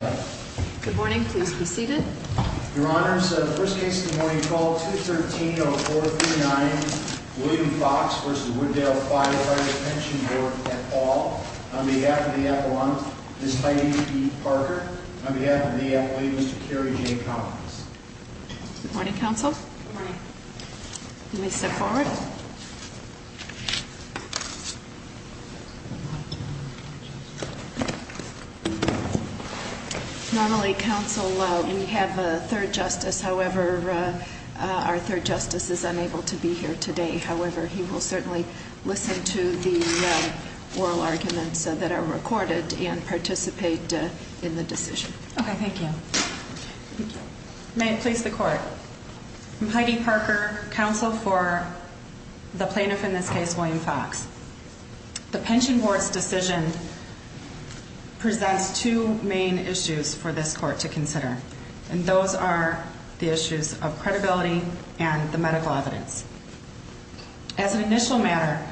Good morning. Please be seated. Your Honor's first case in the morning call to 13 oh four 39 William Fox versus Wooddale Firefighters Pension Board at all. On behalf of the epilogue, this Heidi Parker on behalf of the athlete, Mr. Kerry J. Collins. Morning Council. Let me step forward. Normally, Council, we have a third justice. However, our third justice is unable to be here today. However, he will certainly listen to the oral arguments that are recorded and participate in the decision. Okay, thank you. May it please the court. Heidi Parker, counsel for the plaintiff in this case, William Fox. The pension board's decision presents two main issues for this court to consider. And those are the issues of credibility and the medical evidence. As an initial matter,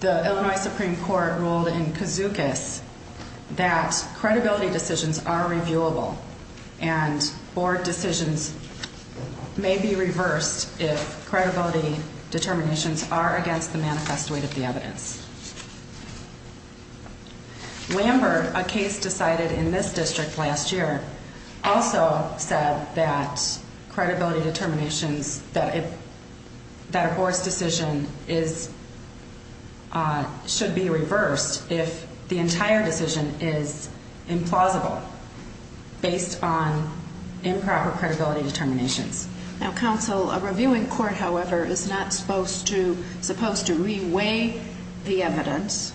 the Illinois Supreme Court ruled in Cazucas that credibility decisions are reviewable and board decisions may be reversed if investigated. The evidence Lambert, a case decided in this district last year, also said that credibility determinations that it that reports decision is, uh, should be reversed if the entire decision is implausible based on improper credibility determinations. Now, counsel, a reviewing court, however, is not supposed to supposed to reweigh the evidence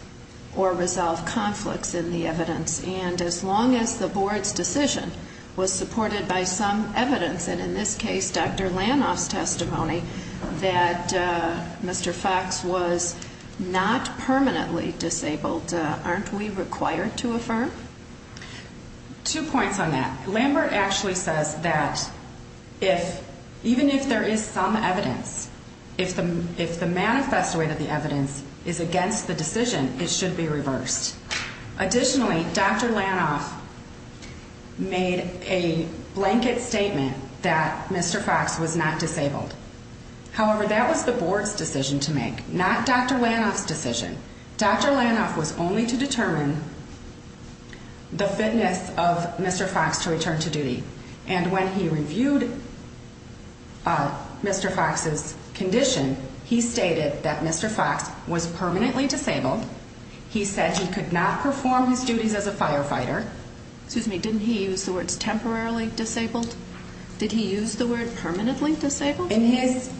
or resolve conflicts in the evidence. And as long as the board's decision was supported by some evidence, and in this case, Dr Lanoff's testimony that Mr Fox was not permanently disabled, aren't we required to affirm two points on that? Lambert actually says that if even if there is some evidence, if the if the manifest way that the evidence is against the decision, it should be reversed. Additionally, Dr Lanoff made a blanket statement that Mr Fox was not disabled. However, that was the board's decision to make. Not Dr Lanoff's decision. Dr Lanoff was only to determine the fitness of Mr Fox to return to duty. And when he reviewed uh, Mr Fox's condition, he stated that Mr Fox was permanently disabled. He said he could not perform his duties as a firefighter. Excuse me. Didn't he use the words temporarily disabled? Did he use the word permanently disabled in his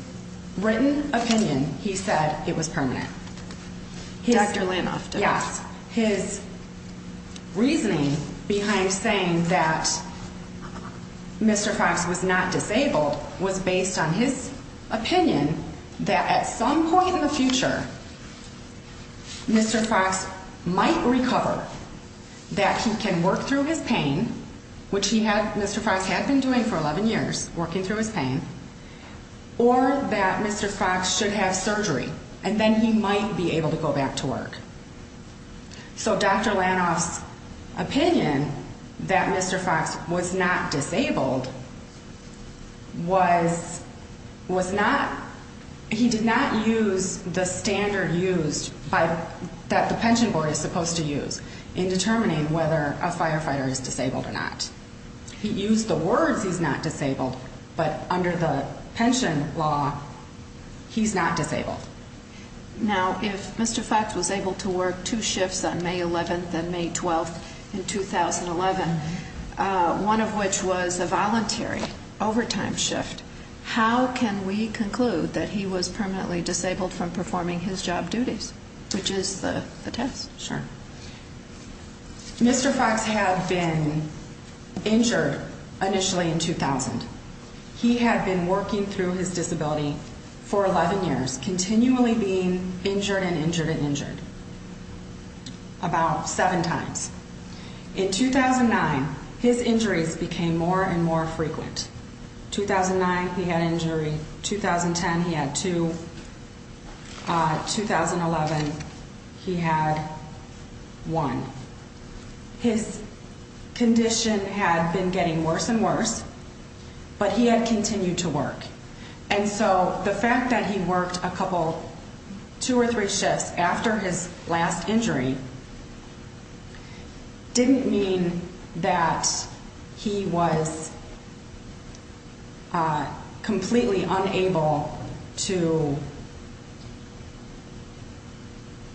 written opinion? He said it was permanent. Dr Lanoff. Yes. His reasoning behind saying that Mr Fox was not disabled was based on his opinion that at some point in the future, Mr Fox might recover that he can work through his pain, which he had. Mr Fox had been doing for 11 years working through his pain or that Mr Fox should have surgery and then he might be able to go back to work. So Dr Lanoff's opinion that Mr Fox was not disabled was was not. He did not use the standard used by that the pension board is supposed to use in determining whether a firefighter is disabled or not. He used the words he's not disabled. But under the pension law, he's not disabled. Now, if Mr Fox was able to work two shifts on May 11th and May 12th in 2011, one of which was a voluntary overtime shift. How can we conclude that he was permanently disabled from performing his job duties, which is the test? Sure. Mr Fox had been injured initially in 2000. He had been working through his disability for 11 years, continually being injured and injured and injured about seven times in 2009. His injuries became more and more frequent. 2009. He had injury 2010. He had to 2011. He had one. His condition had been getting worse and worse, but he had continued to work. And so the fact that he worked a couple two or three shifts after his last injury didn't mean that he was completely unable to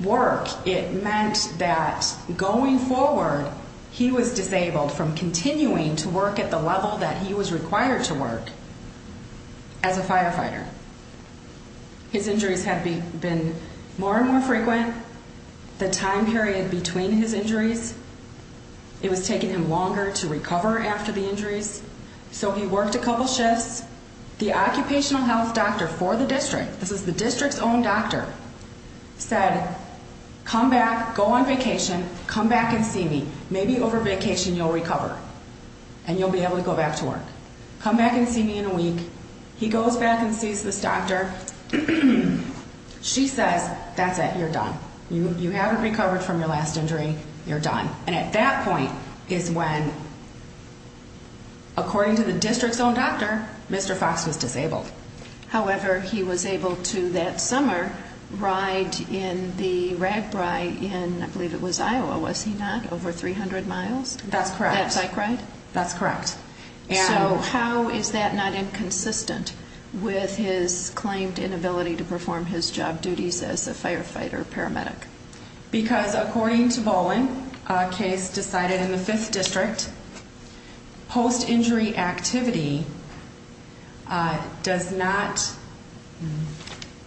work. It meant that going forward, he was disabled from continuing to work at the level that he was required to work as a firefighter. His injuries have been more and more frequent. The time period between his worked a couple shifts. The occupational health doctor for the district. This is the district's own doctor said, Come back, go on vacation, come back and see me. Maybe over vacation, you'll recover and you'll be able to go back to work. Come back and see me in a week. He goes back and sees this doctor. She says, that's it. You're done. You haven't recovered from your last injury. You're done. And at that point is when according to the district's own doctor, Mr Fox was disabled. However, he was able to that summer ride in the rag bride in I believe it was Iowa. Was he not over 300 miles? That's correct. That's correct. That's correct. So how is that not inconsistent with his claimed inability to perform his job duties as a firefighter paramedic? Because according to Bowen case decided in the fifth district post injury activity does not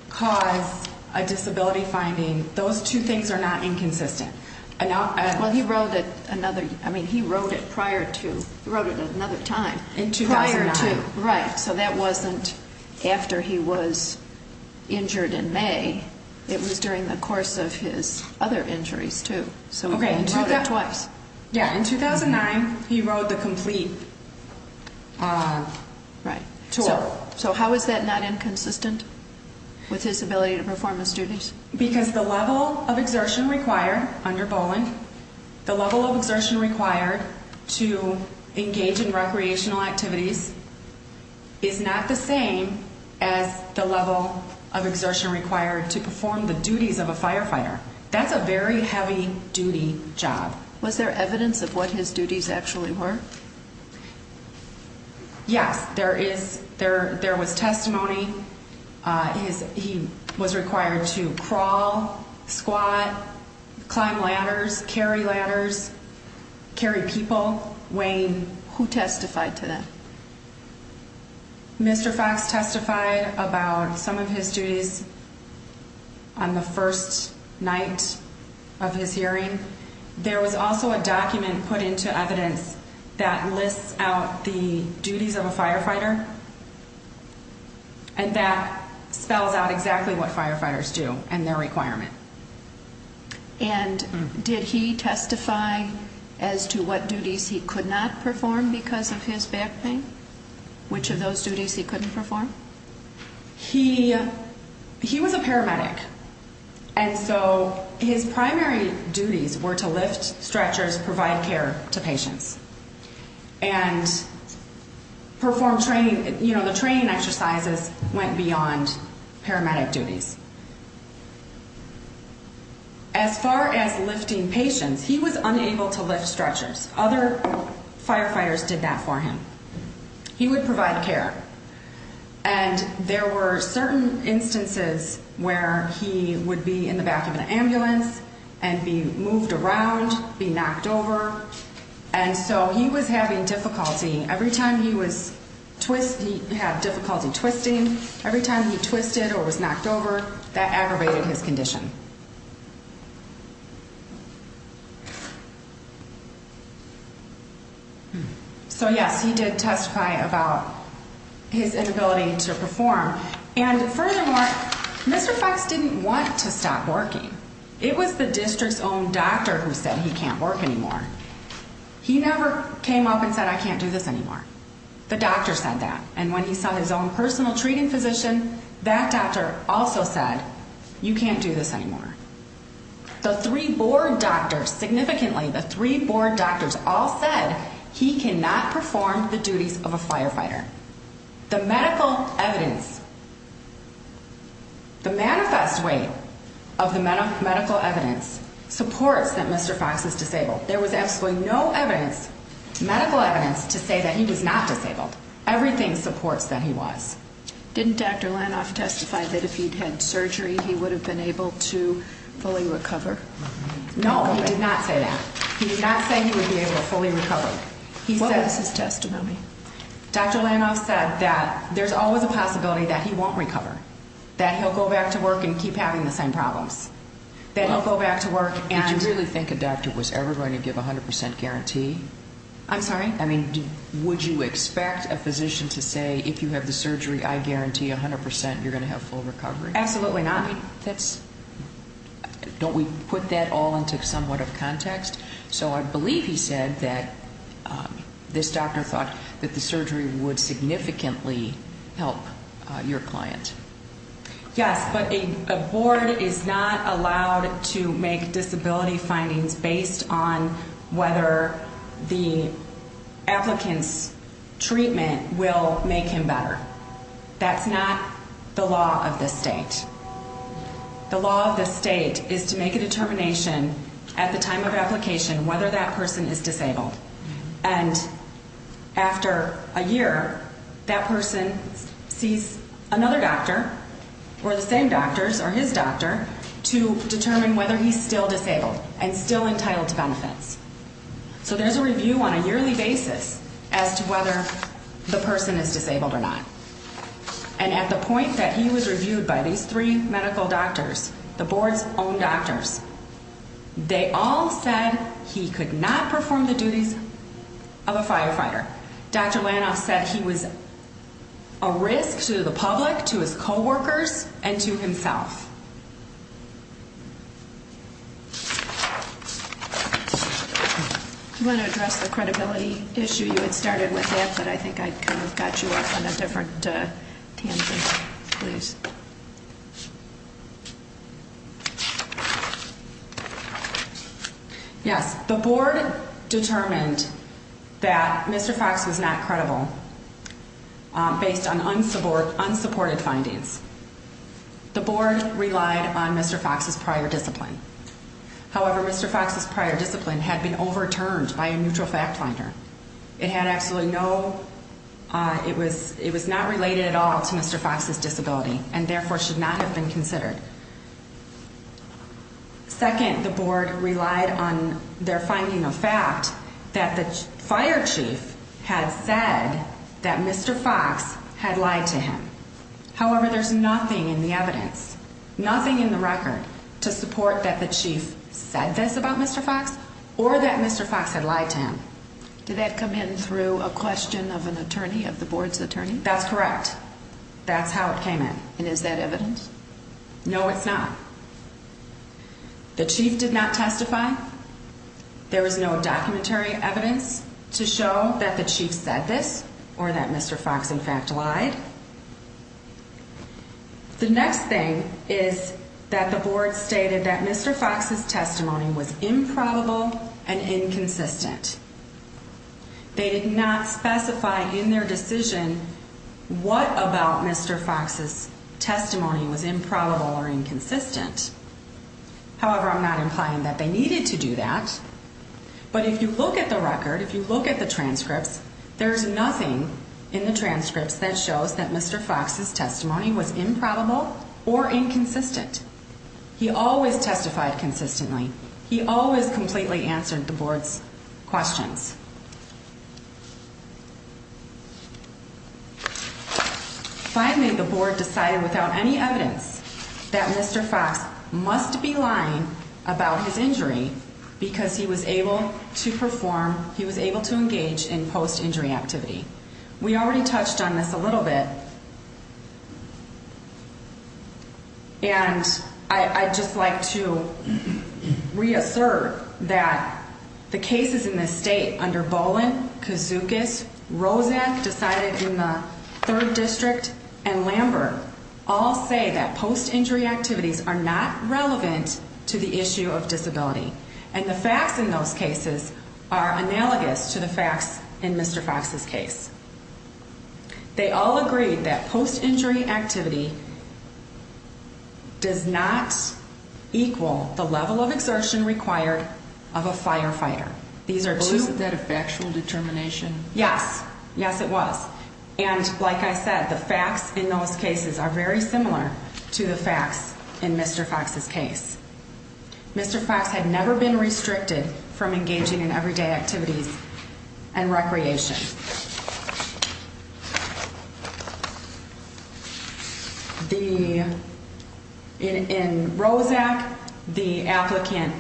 cause a disability finding. Those two things are not inconsistent. Well, he wrote it another. I mean, he wrote it prior to wrote it another time in 2009. Right. So that wasn't after he was injured in May. It was during the in 2009. He wrote the complete right tour. So how is that not inconsistent with his ability to perform his duties? Because the level of exertion required under Bowen, the level of exertion required to engage in recreational activities is not the same as the level of exertion required to perform the duties of a firefighter. That's a very heavy duty job. Was there evidence of what his duties actually were? Yes, there is. There was testimony. Uh, he was required to crawl, squat, climb ladders, carry ladders, carry people weighing who testified to that. Mr Fox testified about some of his duties on the first night of his hearing. There was also a document put into evidence that lists out the duties of a firefighter and that spells out exactly what firefighters do and their requirement. And did he testify as to what duties he could not perform because of his back pain? Which of those duties he couldn't perform? He he was a paramedic. And so his primary duties were to lift stretchers, provide care to patients and perform training. You know, the training exercises went beyond paramedic duties. As far as lifting patients, he was unable to lift stretchers. Other firefighters did that for him. He would provide care. And there were certain instances where he would be in the back of an ambulance and be moved around, be knocked over. And so he was having difficulty every time he was twist. He had difficulty twisting every time he twisted or was knocked over that aggravated his condition. So, yes, he did testify about his inability to perform. And furthermore, Mr Fox didn't want to stop working. It was the district's own doctor who said he can't work anymore. He never came up and said, I can't do this anymore. The doctor said that. And when he saw his own personal treating physician, that doctor also said, you can't do this anymore. The three board doctor significantly. The three board doctors all said he cannot perform the duties of a firefighter. The medical evidence, the manifest way of the medical evidence supports that Mr Fox is disabled. There was absolutely no evidence, medical evidence to say that he was not disabled. Everything supports that he was. Didn't Dr Lanoff testify that if he'd had surgery, he would have been able to fully recover? No, he did not say that. He did not say he would be able to fully recover. He says his testimony. Dr Lanoff said that there's always a possibility that he won't recover, that he'll go back to work and keep having the same problems that he'll go back to work. And you really think a doctor was ever going to give 100% guarantee? I'm sorry. I mean, would you expect a physician to say if you have the surgery, I guarantee 100% you're gonna have full recovery? Absolutely not. That's don't we put that all into somewhat of context? So I believe he said that, this doctor thought that the surgery would significantly help your client. Yes, but a board is not allowed to make disability findings based on whether the applicants treatment will make him better. That's not the law of the state. The law of the state is to make a determination at the time of application whether that person is disabled. And after a year, that person sees another doctor or the same doctors or his doctor to determine whether he's still disabled and still entitled to benefits. So there's a review on a yearly basis as to whether the person is disabled or not. And at the point that he was reviewed by these three medical doctors, the board's own doctors, they all said he could not perform the duties of a firefighter. Dr Lanoff said he was a risk to the public, to his co workers and to himself. Mhm. I want to address the credibility issue. You had started with that, but I think I kind of got you off on a different tangent, please. Yes, the board determined that Mr Fox was not credible based on unsupport unsupported findings. The board relied on Mr Fox's prior discipline. However, Mr Fox's prior discipline had been overturned by a neutral fact finder. It had absolutely no, uh, it was, it was not related at all to Mr Fox's disability and therefore should not have been considered. Second, the board relied on their finding of fact that the fire chief had said that Mr Fox had lied to him. However, there's nothing in the evidence, nothing in the record to support that the chief said this about Mr Fox or that Mr Fox had lied to him. Did that come in through a question of an attorney of the board's attorney? That's correct. That's how it came in. And is that evidence? No, it's not. The chief did not testify. There was no documentary evidence to show that the chief said this or that Mr Fox in fact lied. The next thing is that the board stated that Mr Fox's testimony was improbable and inconsistent. They did not specify in their decision what about Mr Fox's testimony was improbable or inconsistent. However, I'm not implying that they needed to do that. But if you look at the record, if you look at the transcripts, there's nothing in the transcripts that shows that Mr Fox's testimony was improbable or inconsistent. He always testified consistently. He always completely answered the board's questions. Finally, the board decided without any evidence that Mr Fox must be lying about his injury because he was able to perform. He was able to engage in post injury activity. We already touched on this a little bit and I just like to reassert that the cases in this state under Boland Kazookas, Rosette decided in the third district and Lambert all say that post injury activity does not equal the level of exertion required of a firefighter. These are two. Is that a factual determination? Yes. Yes, it was. And like I said, the facts in those cases are very similar to the facts in Mr Fox's case. Mr Fox had never been restricted from engaging in everyday activities and recreation. The in in Rosette, the applicant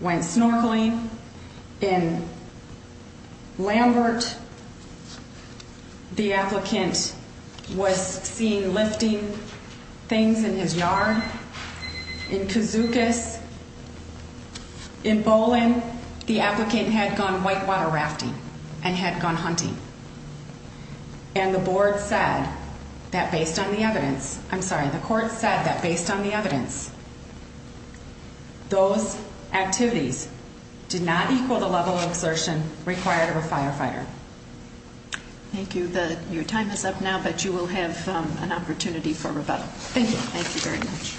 went snorkeling in Lambert. The applicant was seen lifting things in his yard in Kazookas. In Boland, the applicant had gone white water rafting and had gone hunting and the board said that based on the evidence, I'm sorry, the court said that based on the evidence, those activities did not equal the level of exertion required of a firefighter. Thank you. The your time is up now, but you will have an opportunity for rebuttal. Thank you. Thank you very much.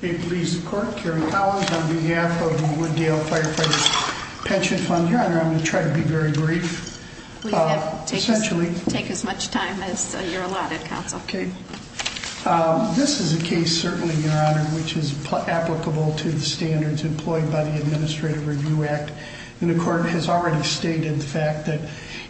It leaves the court. Karen Collins on behalf of the Wooddale Firefighters Pension Fund. Your honor, I'm gonna try to be very brief. Essentially, take as much time as you're allotted. Counsel. Okay, this is a case, certainly your honor, which is applicable to the standards employed by the Administrative Review Act. And the court has already stated the fact that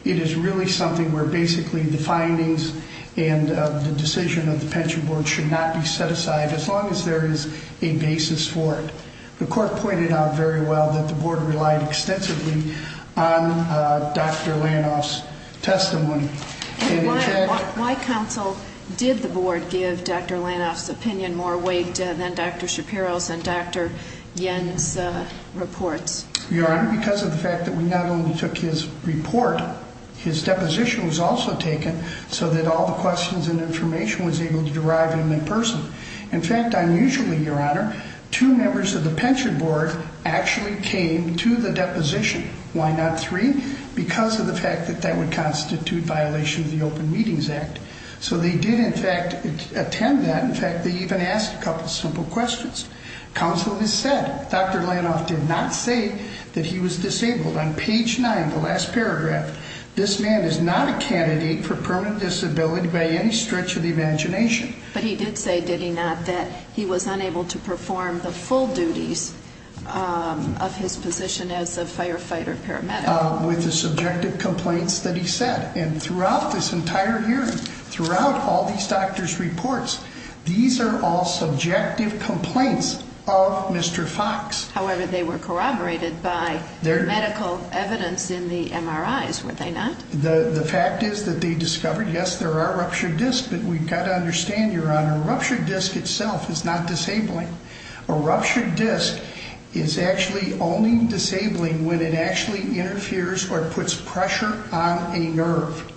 it is really something where basically the findings and the decision of the pension board should not be set aside as long as there is a basis for it. The court pointed out very well that the board relied extensively on Dr Lanoff's testimony. Why? Counsel, did the board give Dr Lanoff's opinion more weight than Dr Shapiro's and Dr Yen's reports? Your honor, because of the fact that we not only took his report, his deposition was also taken so that all the questions and information was able to derive in person. In fact, unusually, your honor, two members of the pension board actually came to the deposition. Why not three? Because of the fact that that would constitute violation of the Open Meetings Act. So they did in fact attend that. In fact, they even asked a couple simple questions. Counsel has said, Dr. Lanoff did not say that he was disabled. On page 9, the last paragraph, this man is not a candidate for permanent disability by any stretch of the imagination. But he did say, did he not, that he was unable to perform the full duties of his position as a firefighter, paramedic, with the subjective complaints that he said. And throughout this entire hearing, throughout all these doctors' reports, these are all subjective complaints of Mr. Fox. However, they were corroborated by their medical evidence in the MRIs, were they not? The fact is that they discovered, yes, there are ruptured discs, but we've got to understand, your honor, a ruptured disc itself is not disabling. A ruptured disc is actually only disabling when it actually interferes or puts pressure on a nerve.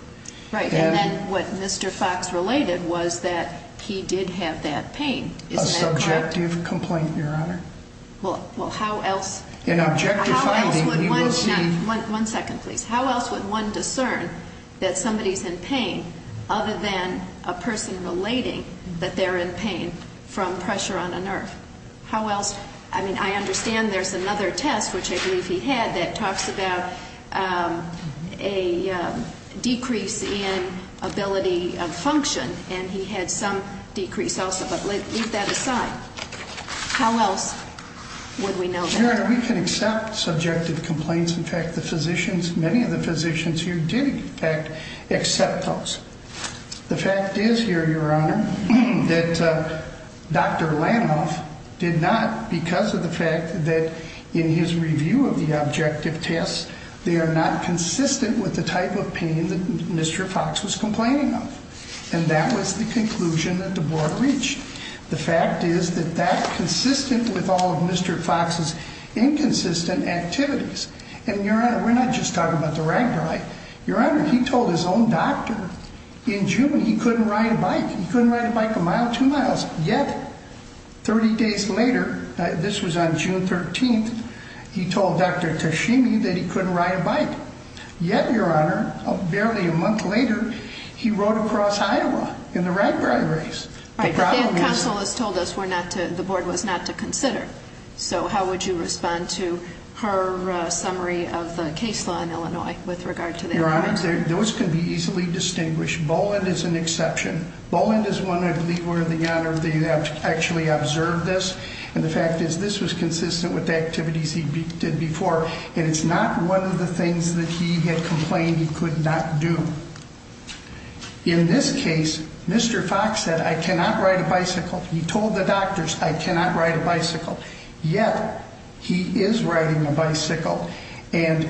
Right. And then what Mr. Fox related was that he did have that pain. A subjective complaint, your honor. Well, how else? An objective finding. One second, please. How else would one discern that somebody is in pain other than a person relating that they're in pain from pressure on a nerve? How else? I mean, I understand there's another test, which I believe he had, that talks about, um, a decrease in ability of function. And he had some decrease also. But leave that aside. How else would we know that? Your Honor, we can accept subjective complaints. In fact, the physicians, many of the physicians here did, in fact, accept those. The fact is here, your honor, that Dr Fox, because of the fact that in his review of the objective tests, they are not consistent with the type of pain that Mr. Fox was complaining of. And that was the conclusion that the board reached. The fact is that that consistent with all of Mr. Fox's inconsistent activities. And your honor, we're not just talking about the rag dry. Your honor, he told his own doctor in June he couldn't ride a bike. He couldn't ride a bike a mile, two 30 days later. This was on June 13th. He told Dr Tashimi that he couldn't ride a bike. Yet, your honor, barely a month later, he rode across Iowa in the right priorities. Counsel has told us we're not the board was not to consider. So how would you respond to her summary of the case law in Illinois with regard to their honor? Those could be easily distinguished. Boland is an exception. Boland is one. I believe we're the honor of the actually observed this. And the fact is, this was consistent with the activities he did before, and it's not one of the things that he had complained he could not do. In this case, Mr Fox said, I cannot ride a bicycle. He told the doctors I cannot ride a bicycle. Yet he is riding a bicycle. And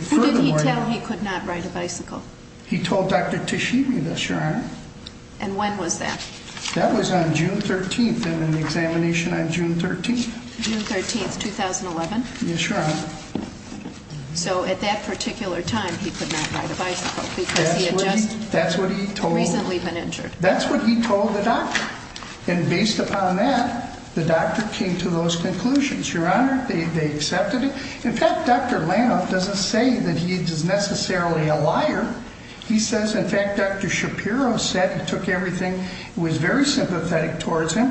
furthermore, he could not ride a bicycle. He told Dr Tashimi this, your honor. And when was that? That was on June 13th and an examination on June 13th, June 13th, 2011. Yes, your honor. So at that particular time, he could not ride a bicycle because that's what he told recently been injured. That's what he told the doctor. And based upon that, the doctor came to those conclusions. Your honor, they accepted it. In fact, Dr Lam doesn't say that he is necessarily a liar. He says, in fact, Dr Shapiro said he took everything was very sympathetic towards him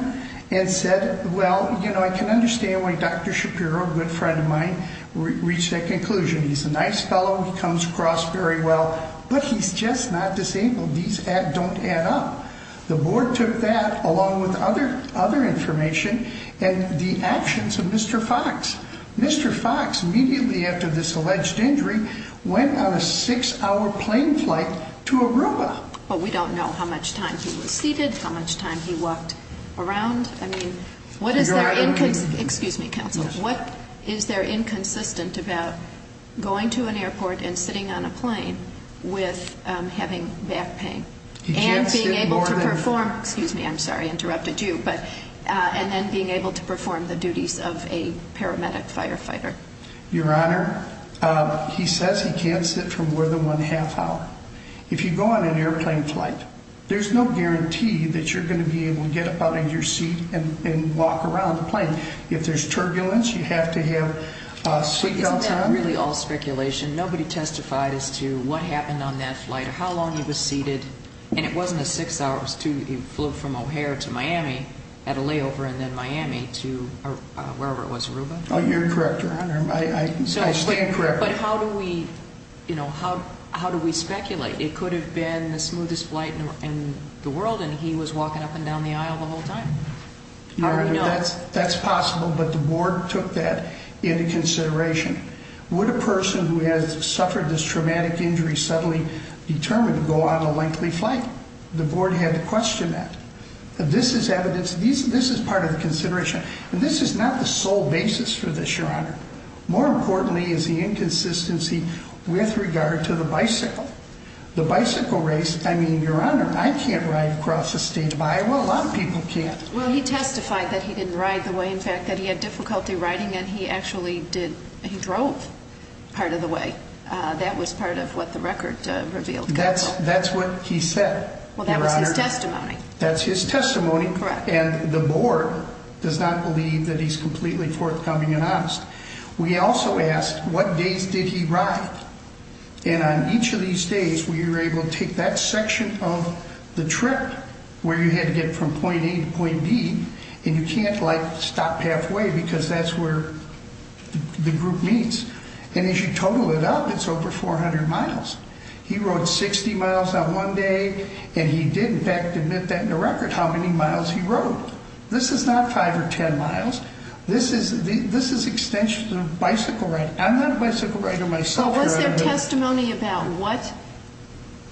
and said, Well, you know, I can understand why Dr Shapiro, a good friend of mine, reached that conclusion. He's a nice fellow. He comes across very well, but he's just not disabled. These don't add up. The board took that along with other other information and the actions of Mr Fox. Mr Fox immediately after this alleged injury went on a six hour plane flight to Aruba. But we don't know how much time he was seated, how much time he walked around. I mean, what is there? Excuse me, counsel. What is there inconsistent about going to an airport and sitting on a plane with having back pain and being able to perform? Excuse me. I'm sorry. Interrupted you. But on then being able to perform the duties of a paramedic firefighter, your honor, he says he can't sit for more than 1.5 hour. If you go on an airplane flight, there's no guarantee that you're going to be able to get up out of your seat and walk around the plane. If there's turbulence, you have to have sweet. Really all speculation. Nobody testified as to what happened on that flight or how long he was seated. And it wasn't a six hours to flew from O'Hare to Miami at a layover and then Miami to wherever it was. Aruba. Oh, you're correct, Your Honor. I stand correct. But how do we, you know, how? How do we speculate? It could have been the smoothest flight in the world, and he was walking up and down the aisle the whole time. That's possible. But the board took that into consideration. Would a person who has suffered this traumatic injury suddenly determined to go on a lengthy flight? The board had to question that. This is evidence. This is part of the consideration. And this is not the sole basis for this, Your Honor. More importantly, is the inconsistency with regard to the bicycle, the bicycle race. I mean, Your Honor, I can't ride across the state of Iowa. A lot of people can't. Well, he testified that he didn't ride the way, in fact, that he had difficulty riding and he actually did. He drove part of the way. That was part of what the record revealed. That's that's what he said. Well, that was his testimony. That's his testimony. And the board does not believe that he's completely forthcoming and honest. We also asked what days did he ride? And on each of these days, we were able to take that section of the trip where you had to get from point A to point B. And you can't, like, stop halfway because that's where the group meets. And as you total it up, it's over 400 miles. He rode 60 miles on one day, and he did, in fact, admit that in the record how many miles he rode. This is not five or 10 miles. This is this is extension of bicycle ride. I'm not a bicycle rider myself. So what's their testimony about what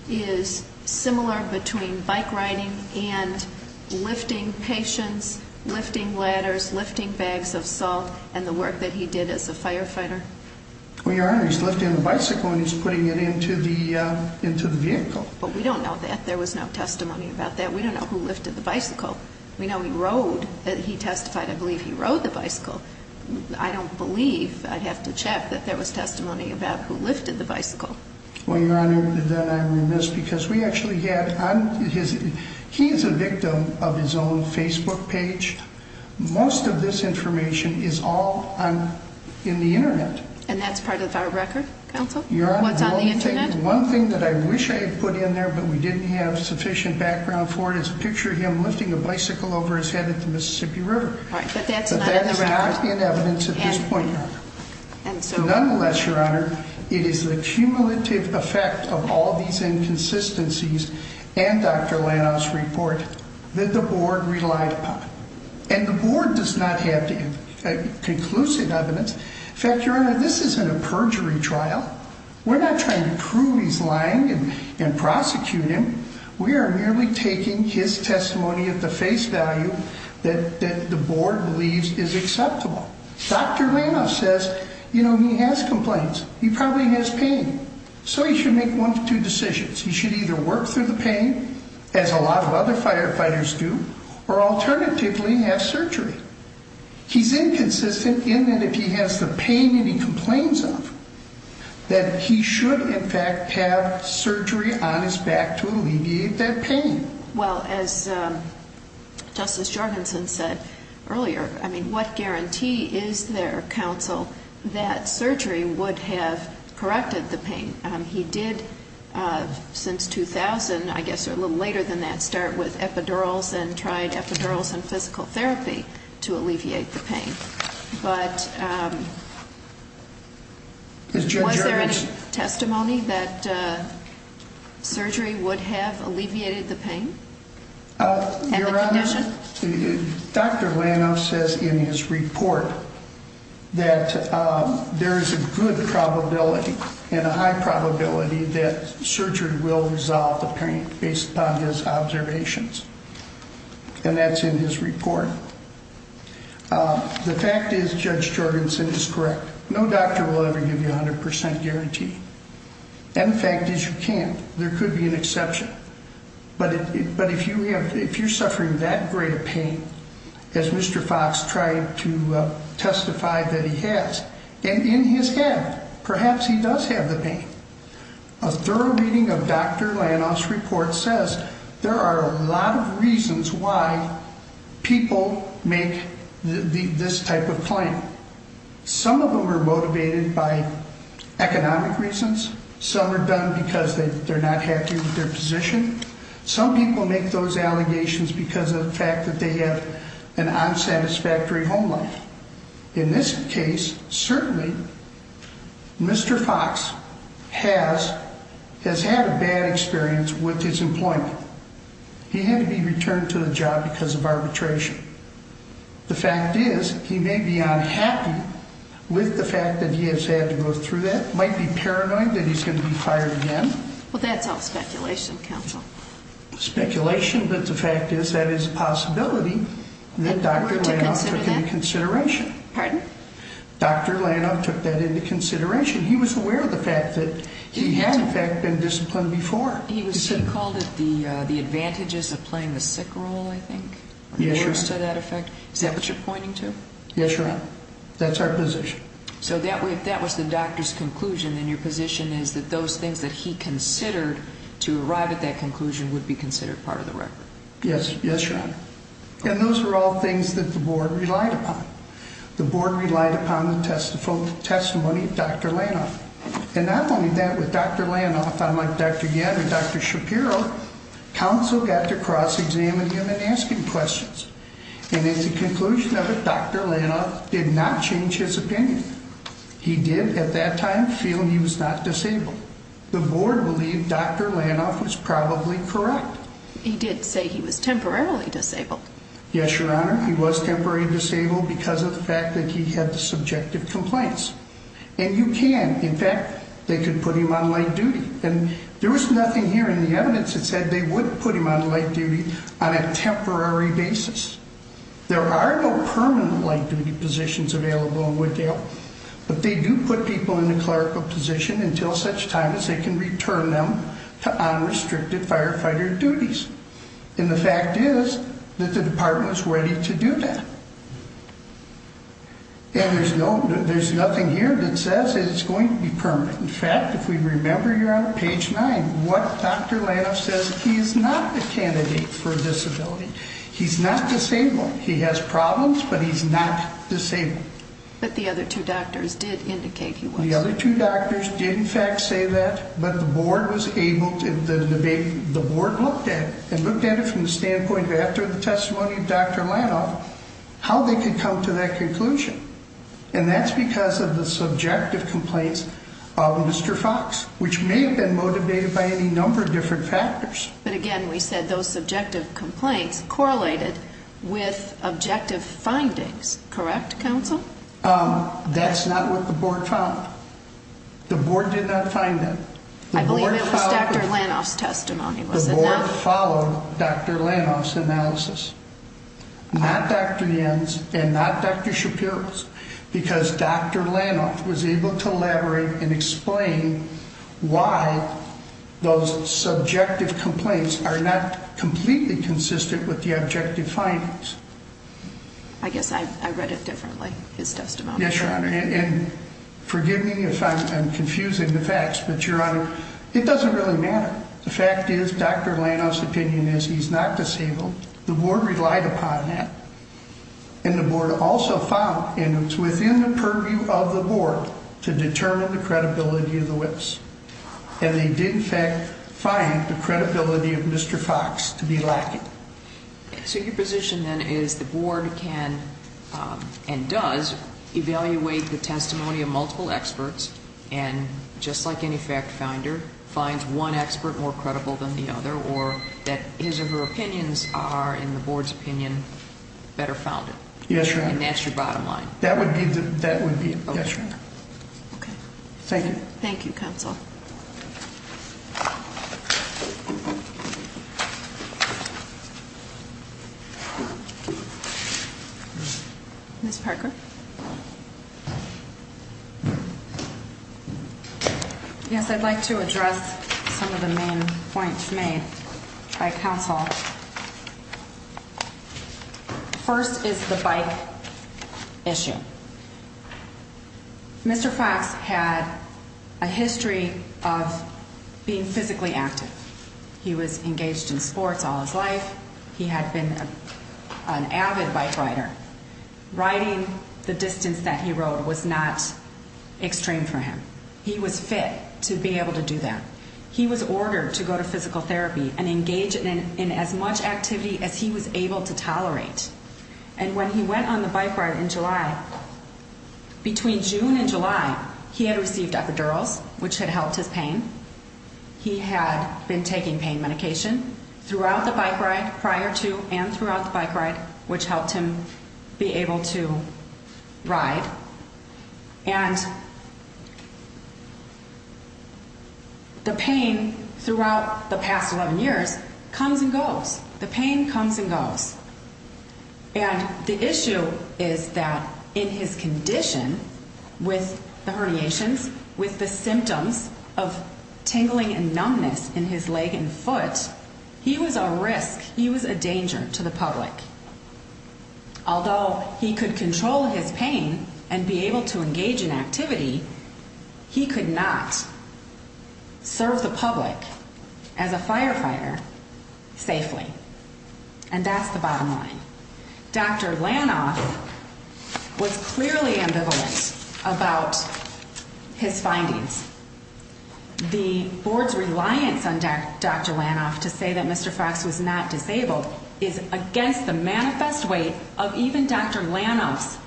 is similar between bike riding and lifting patients, lifting ladders, lifting bags of salt and the work that he did as a firefighter? Well, Your into the vehicle, but we don't know that there was no testimony about that. We don't know who lifted the bicycle. We know he rode that he testified. I believe he rode the bicycle. I don't believe I'd have to check that there was testimony about who lifted the bicycle. Well, Your Honor, then I'm remiss because we actually get on his. He is a victim of his own Facebook page. Most of this information is all on in the Internet, and that's part of our record. You're on the Internet. One thing that I wish I put in there, but we didn't have sufficient background for it is a picture of him lifting a bicycle over his head at the Mississippi River. But that's not in evidence at this point. And so, nonetheless, Your Honor, it is the cumulative effect of all these inconsistencies and Dr Landau's report that the board relied upon. And the board does not have to get a conclusive evidence. In fact, Your Honor, this is a perjury trial. We're not trying to prove he's lying and prosecute him. We are merely taking his testimony of the face value that the board believes is acceptable. Dr Randolph says, you know, he has complaints. He probably has pain, so he should make one of two decisions. He should either work through the pain, as a lot of other firefighters do, or alternatively have surgery. He's inconsistent in that if he has the pain that he complains of, that he should, in fact, have surgery on his back to alleviate that pain. Well, as Justice Jorgensen said earlier, I mean, what guarantee is there, counsel, that surgery would have corrected the pain? He did, since 2000, I guess a little later than that, start with epidurals and tried epidurals and physical therapy to alleviate the pain. But, was there any testimony that surgery would have alleviated the pain? Dr. Randolph says in his report that there is a good probability and a high probability that surgery will resolve the pain based upon his observations. And that's in his report. The fact is, Judge Jorgensen is correct. No doctor will ever give you a 100% guarantee. And the fact is, you can't. There could be an exception. But if you're suffering that great a pain, as Mr. Fox tried to testify that he has, and in his head, perhaps he does have the pain. A thorough reading of Dr. Randolph's report says there are a lot of reasons why people make this type of claim. Some of them are motivated by economic reasons. Some are done because they're not happy with their position. Some people make those allegations because of the fact that they have an unsatisfactory home life. In this case, certainly, Mr. Fox has had a bad experience with his employment. He had to be returned to the job because of arbitration. The fact is, he may be unhappy with the fact that he has had to go through that, might be paranoid that he's going to be fired again. Well, that's all speculation, counsel. Speculation. But the fact is, that is a possibility that Dr. Randolph took into consideration. Pardon? Dr. Randolph took that into consideration. He was aware of the fact that he had, in fact, been disciplined before. He called it the advantages of playing the sick role, I think. Yes, Your Honor. Is that what you're pointing to? Yes, Your Honor. That's our position. So if that was the doctor's conclusion, then your position is that those things that he considered to arrive at that conclusion would be considered part of the record. Yes, Your Honor. And those were all things that the board relied upon. The board relied upon the testimony of Dr. Randolph. And not only that, with Dr. Randolph, unlike Dr. Yen or Dr. Shapiro, counsel got to cross-examine him in asking questions. And at the conclusion of it, Dr. Randolph did not change his opinion. He did, at that time, feel he was not disabled. The board believed Dr. Randolph was probably correct. He did say he was temporarily disabled. Yes, Your Honor. He was temporarily disabled because of the fact that he had the subjective complaints. And you can, in fact, they could put him on light duty. And there was nothing here in the evidence that said they would put him on light duty on a temporary basis. There are no permanent light duty positions available in Wooddale, but they do put people in a clerical position until such time as they can return them to unrestricted firefighter duties. And the fact is that the department was ready to do that. And there's no, there's nothing here that says it's going to be permanent. In fact, if we remember here on page nine, what Dr. Randolph says, he is not a candidate for disability. He's not disabled. He has problems, but he's not disabled. But the other two doctors did indicate he was. The other two doctors did, in fact, say that. But the board was able to, the board looked at it and looked at it from the standpoint after the testimony of Dr. Randolph, how they could come to that conclusion. And that's because of the subjective complaints of Mr. Fox, which may have been motivated by any number of different factors. But again, we said those subjective complaints correlated with objective findings. Correct, counsel? That's not what the board found. The board did not find them. I believe it was Dr. Randolph's testimony. The board followed Dr. Randolph's analysis. Not Dr. Yens and not Dr. Shapiro's, because Dr. Randolph was able to elaborate and explain why those subjective complaints are not completely consistent with the objective findings. I guess I read it differently. His testimony. Yes, your honor. And forgive me if I'm confusing the facts, but your honor, it doesn't really matter. The fact is, Dr. Randolph's opinion is he's not disabled. The board relied upon that. And the board also found, and it's within the purview of the board, to determine the credibility of the Whips. And they did, in fact, find the credibility of Mr. Fox to be lacking. So your position then is the board can and does evaluate the testimony of finds one expert more credible than the other, or that his or her opinions are, in the board's opinion, better founded. Yes, your honor. And that's your bottom line. That would be, that would be it. Yes, your honor. Okay. Thank you. Thank you, counsel. Miss Parker. Mhm. Yes, I'd like to address some of the main points made by counsel. First is the bike issue. Mr Fox had a history of being physically active. He was engaged in sports all his life. He had been an avid bike rider. Riding the distance that he rode was not extreme for him. He was fit to be able to do that. He was ordered to go to physical therapy and engage in as much activity as he was able to tolerate. And when he went on the bike ride in July, between June and July, he had received epidurals, which had helped his pain. He had been taking pain medication throughout the bike ride prior to and throughout the bike ride, which helped him be able to ride and the pain throughout the past 11 years comes and goes. The pain comes and goes. And the issue is that in his condition with the herniations, with the symptoms of tingling and numbness in his leg and foot, he was a risk. He was a danger to the public. Although he could control his pain and be able to engage in activity, he could not serve the public as a firefighter safely. And that's the bottom line. Dr the board's reliance on Dr Landoff to say that Mr Fox was not disabled is against the manifest weight of even Dr Landoffs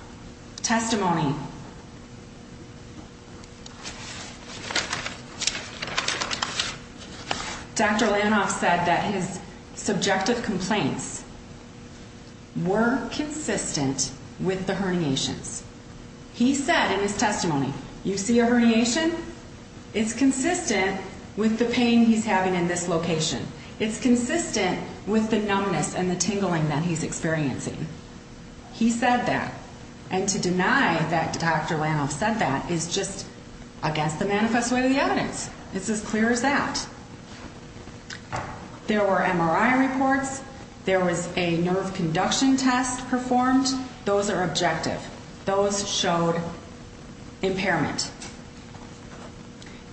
testimony. Dr Landoff said that his subjective complaints were consistent with the herniations. He said in his testimony, you see a herniation. It's consistent with the pain he's having in this location. It's consistent with the numbness and the tingling that he's experiencing. He said that and to deny that Dr Landoff said that is just against the manifest way of the evidence. It's as clear as that there were M. R. I. Reports. There was a nerve conduction test performed. Those are objective. Those showed impairment.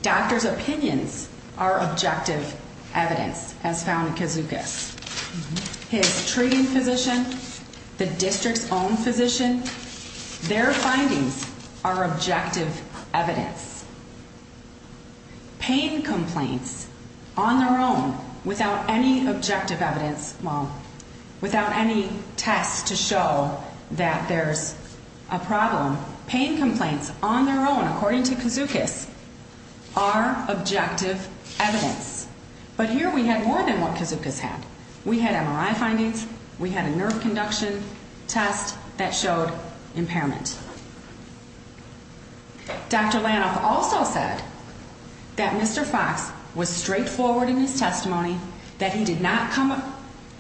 Doctor's opinions are objective. Evidence has found Kazuka's his treating physician, the district's own physician. Their findings are objective evidence. Pain complaints on their own without any objective evidence. Well, without any tests to show that there's a problem, pain complaints on their own, according to Kazuka's are objective evidence. But here we had more than what Kazuka's had. We had M. R. I. Findings. We had a nerve conduction test that showed impairment. Dr Landoff also said that Mr Fox was straightforward in his testimony that he did not come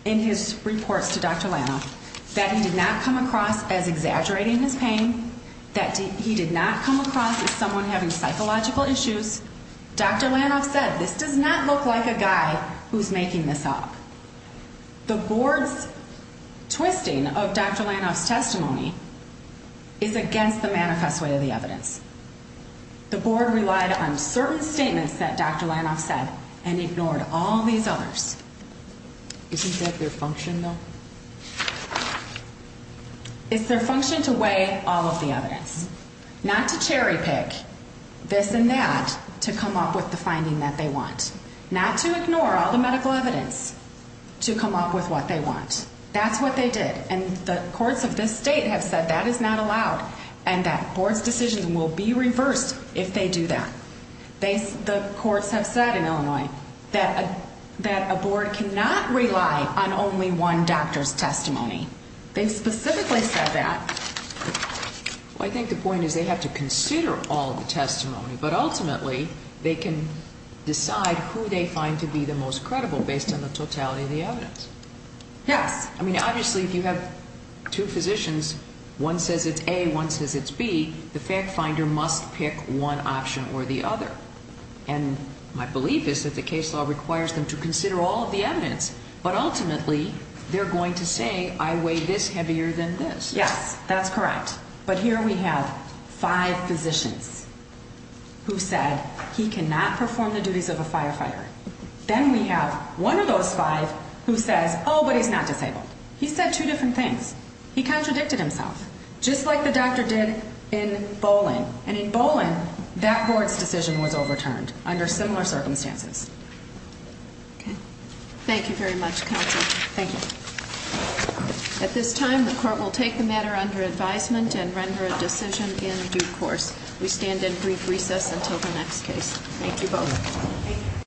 in his reports to Dr Landoff that he did not come across as exaggerating his pain that he did not come across as someone having psychological issues. Dr Landoff said this does not look like a guy who's making this up. The board's twisting of Dr Landoff's testimony is against the manifest way of the evidence. The board relied on certain statements that Dr Landoff said and ignored all these others. Isn't that their function, though? It's their function to weigh all of the evidence, not to cherry pick this and that to come up with the finding that they want not to ignore all the medical evidence to come up with what they want. That's what they did. And the courts of this state have said that is not allowed and that boards decisions will be that a board cannot rely on only one doctor's testimony. They specifically said that I think the point is they have to consider all the testimony, but ultimately they can decide who they find to be the most credible based on the totality of the evidence. Yes. I mean, obviously, if you have two physicians, one says it's a one says it's be the fact finder must pick one option or the other. And my belief is that the case law requires them to consider all of the evidence. But ultimately, they're going to say I weigh this heavier than this. Yes, that's correct. But here we have five physicians who said he cannot perform the duties of a firefighter. Then we have one of those five who says, Oh, but he's not disabled. He said two different things. He contradicted himself just like the doctor did in bowling. And in bowling, that board's decision was overturned under similar circumstances. Thank you very much. Thank you. At this time, the court will take the matter under advisement and render a decision in due course. We stand in brief recess until the next case.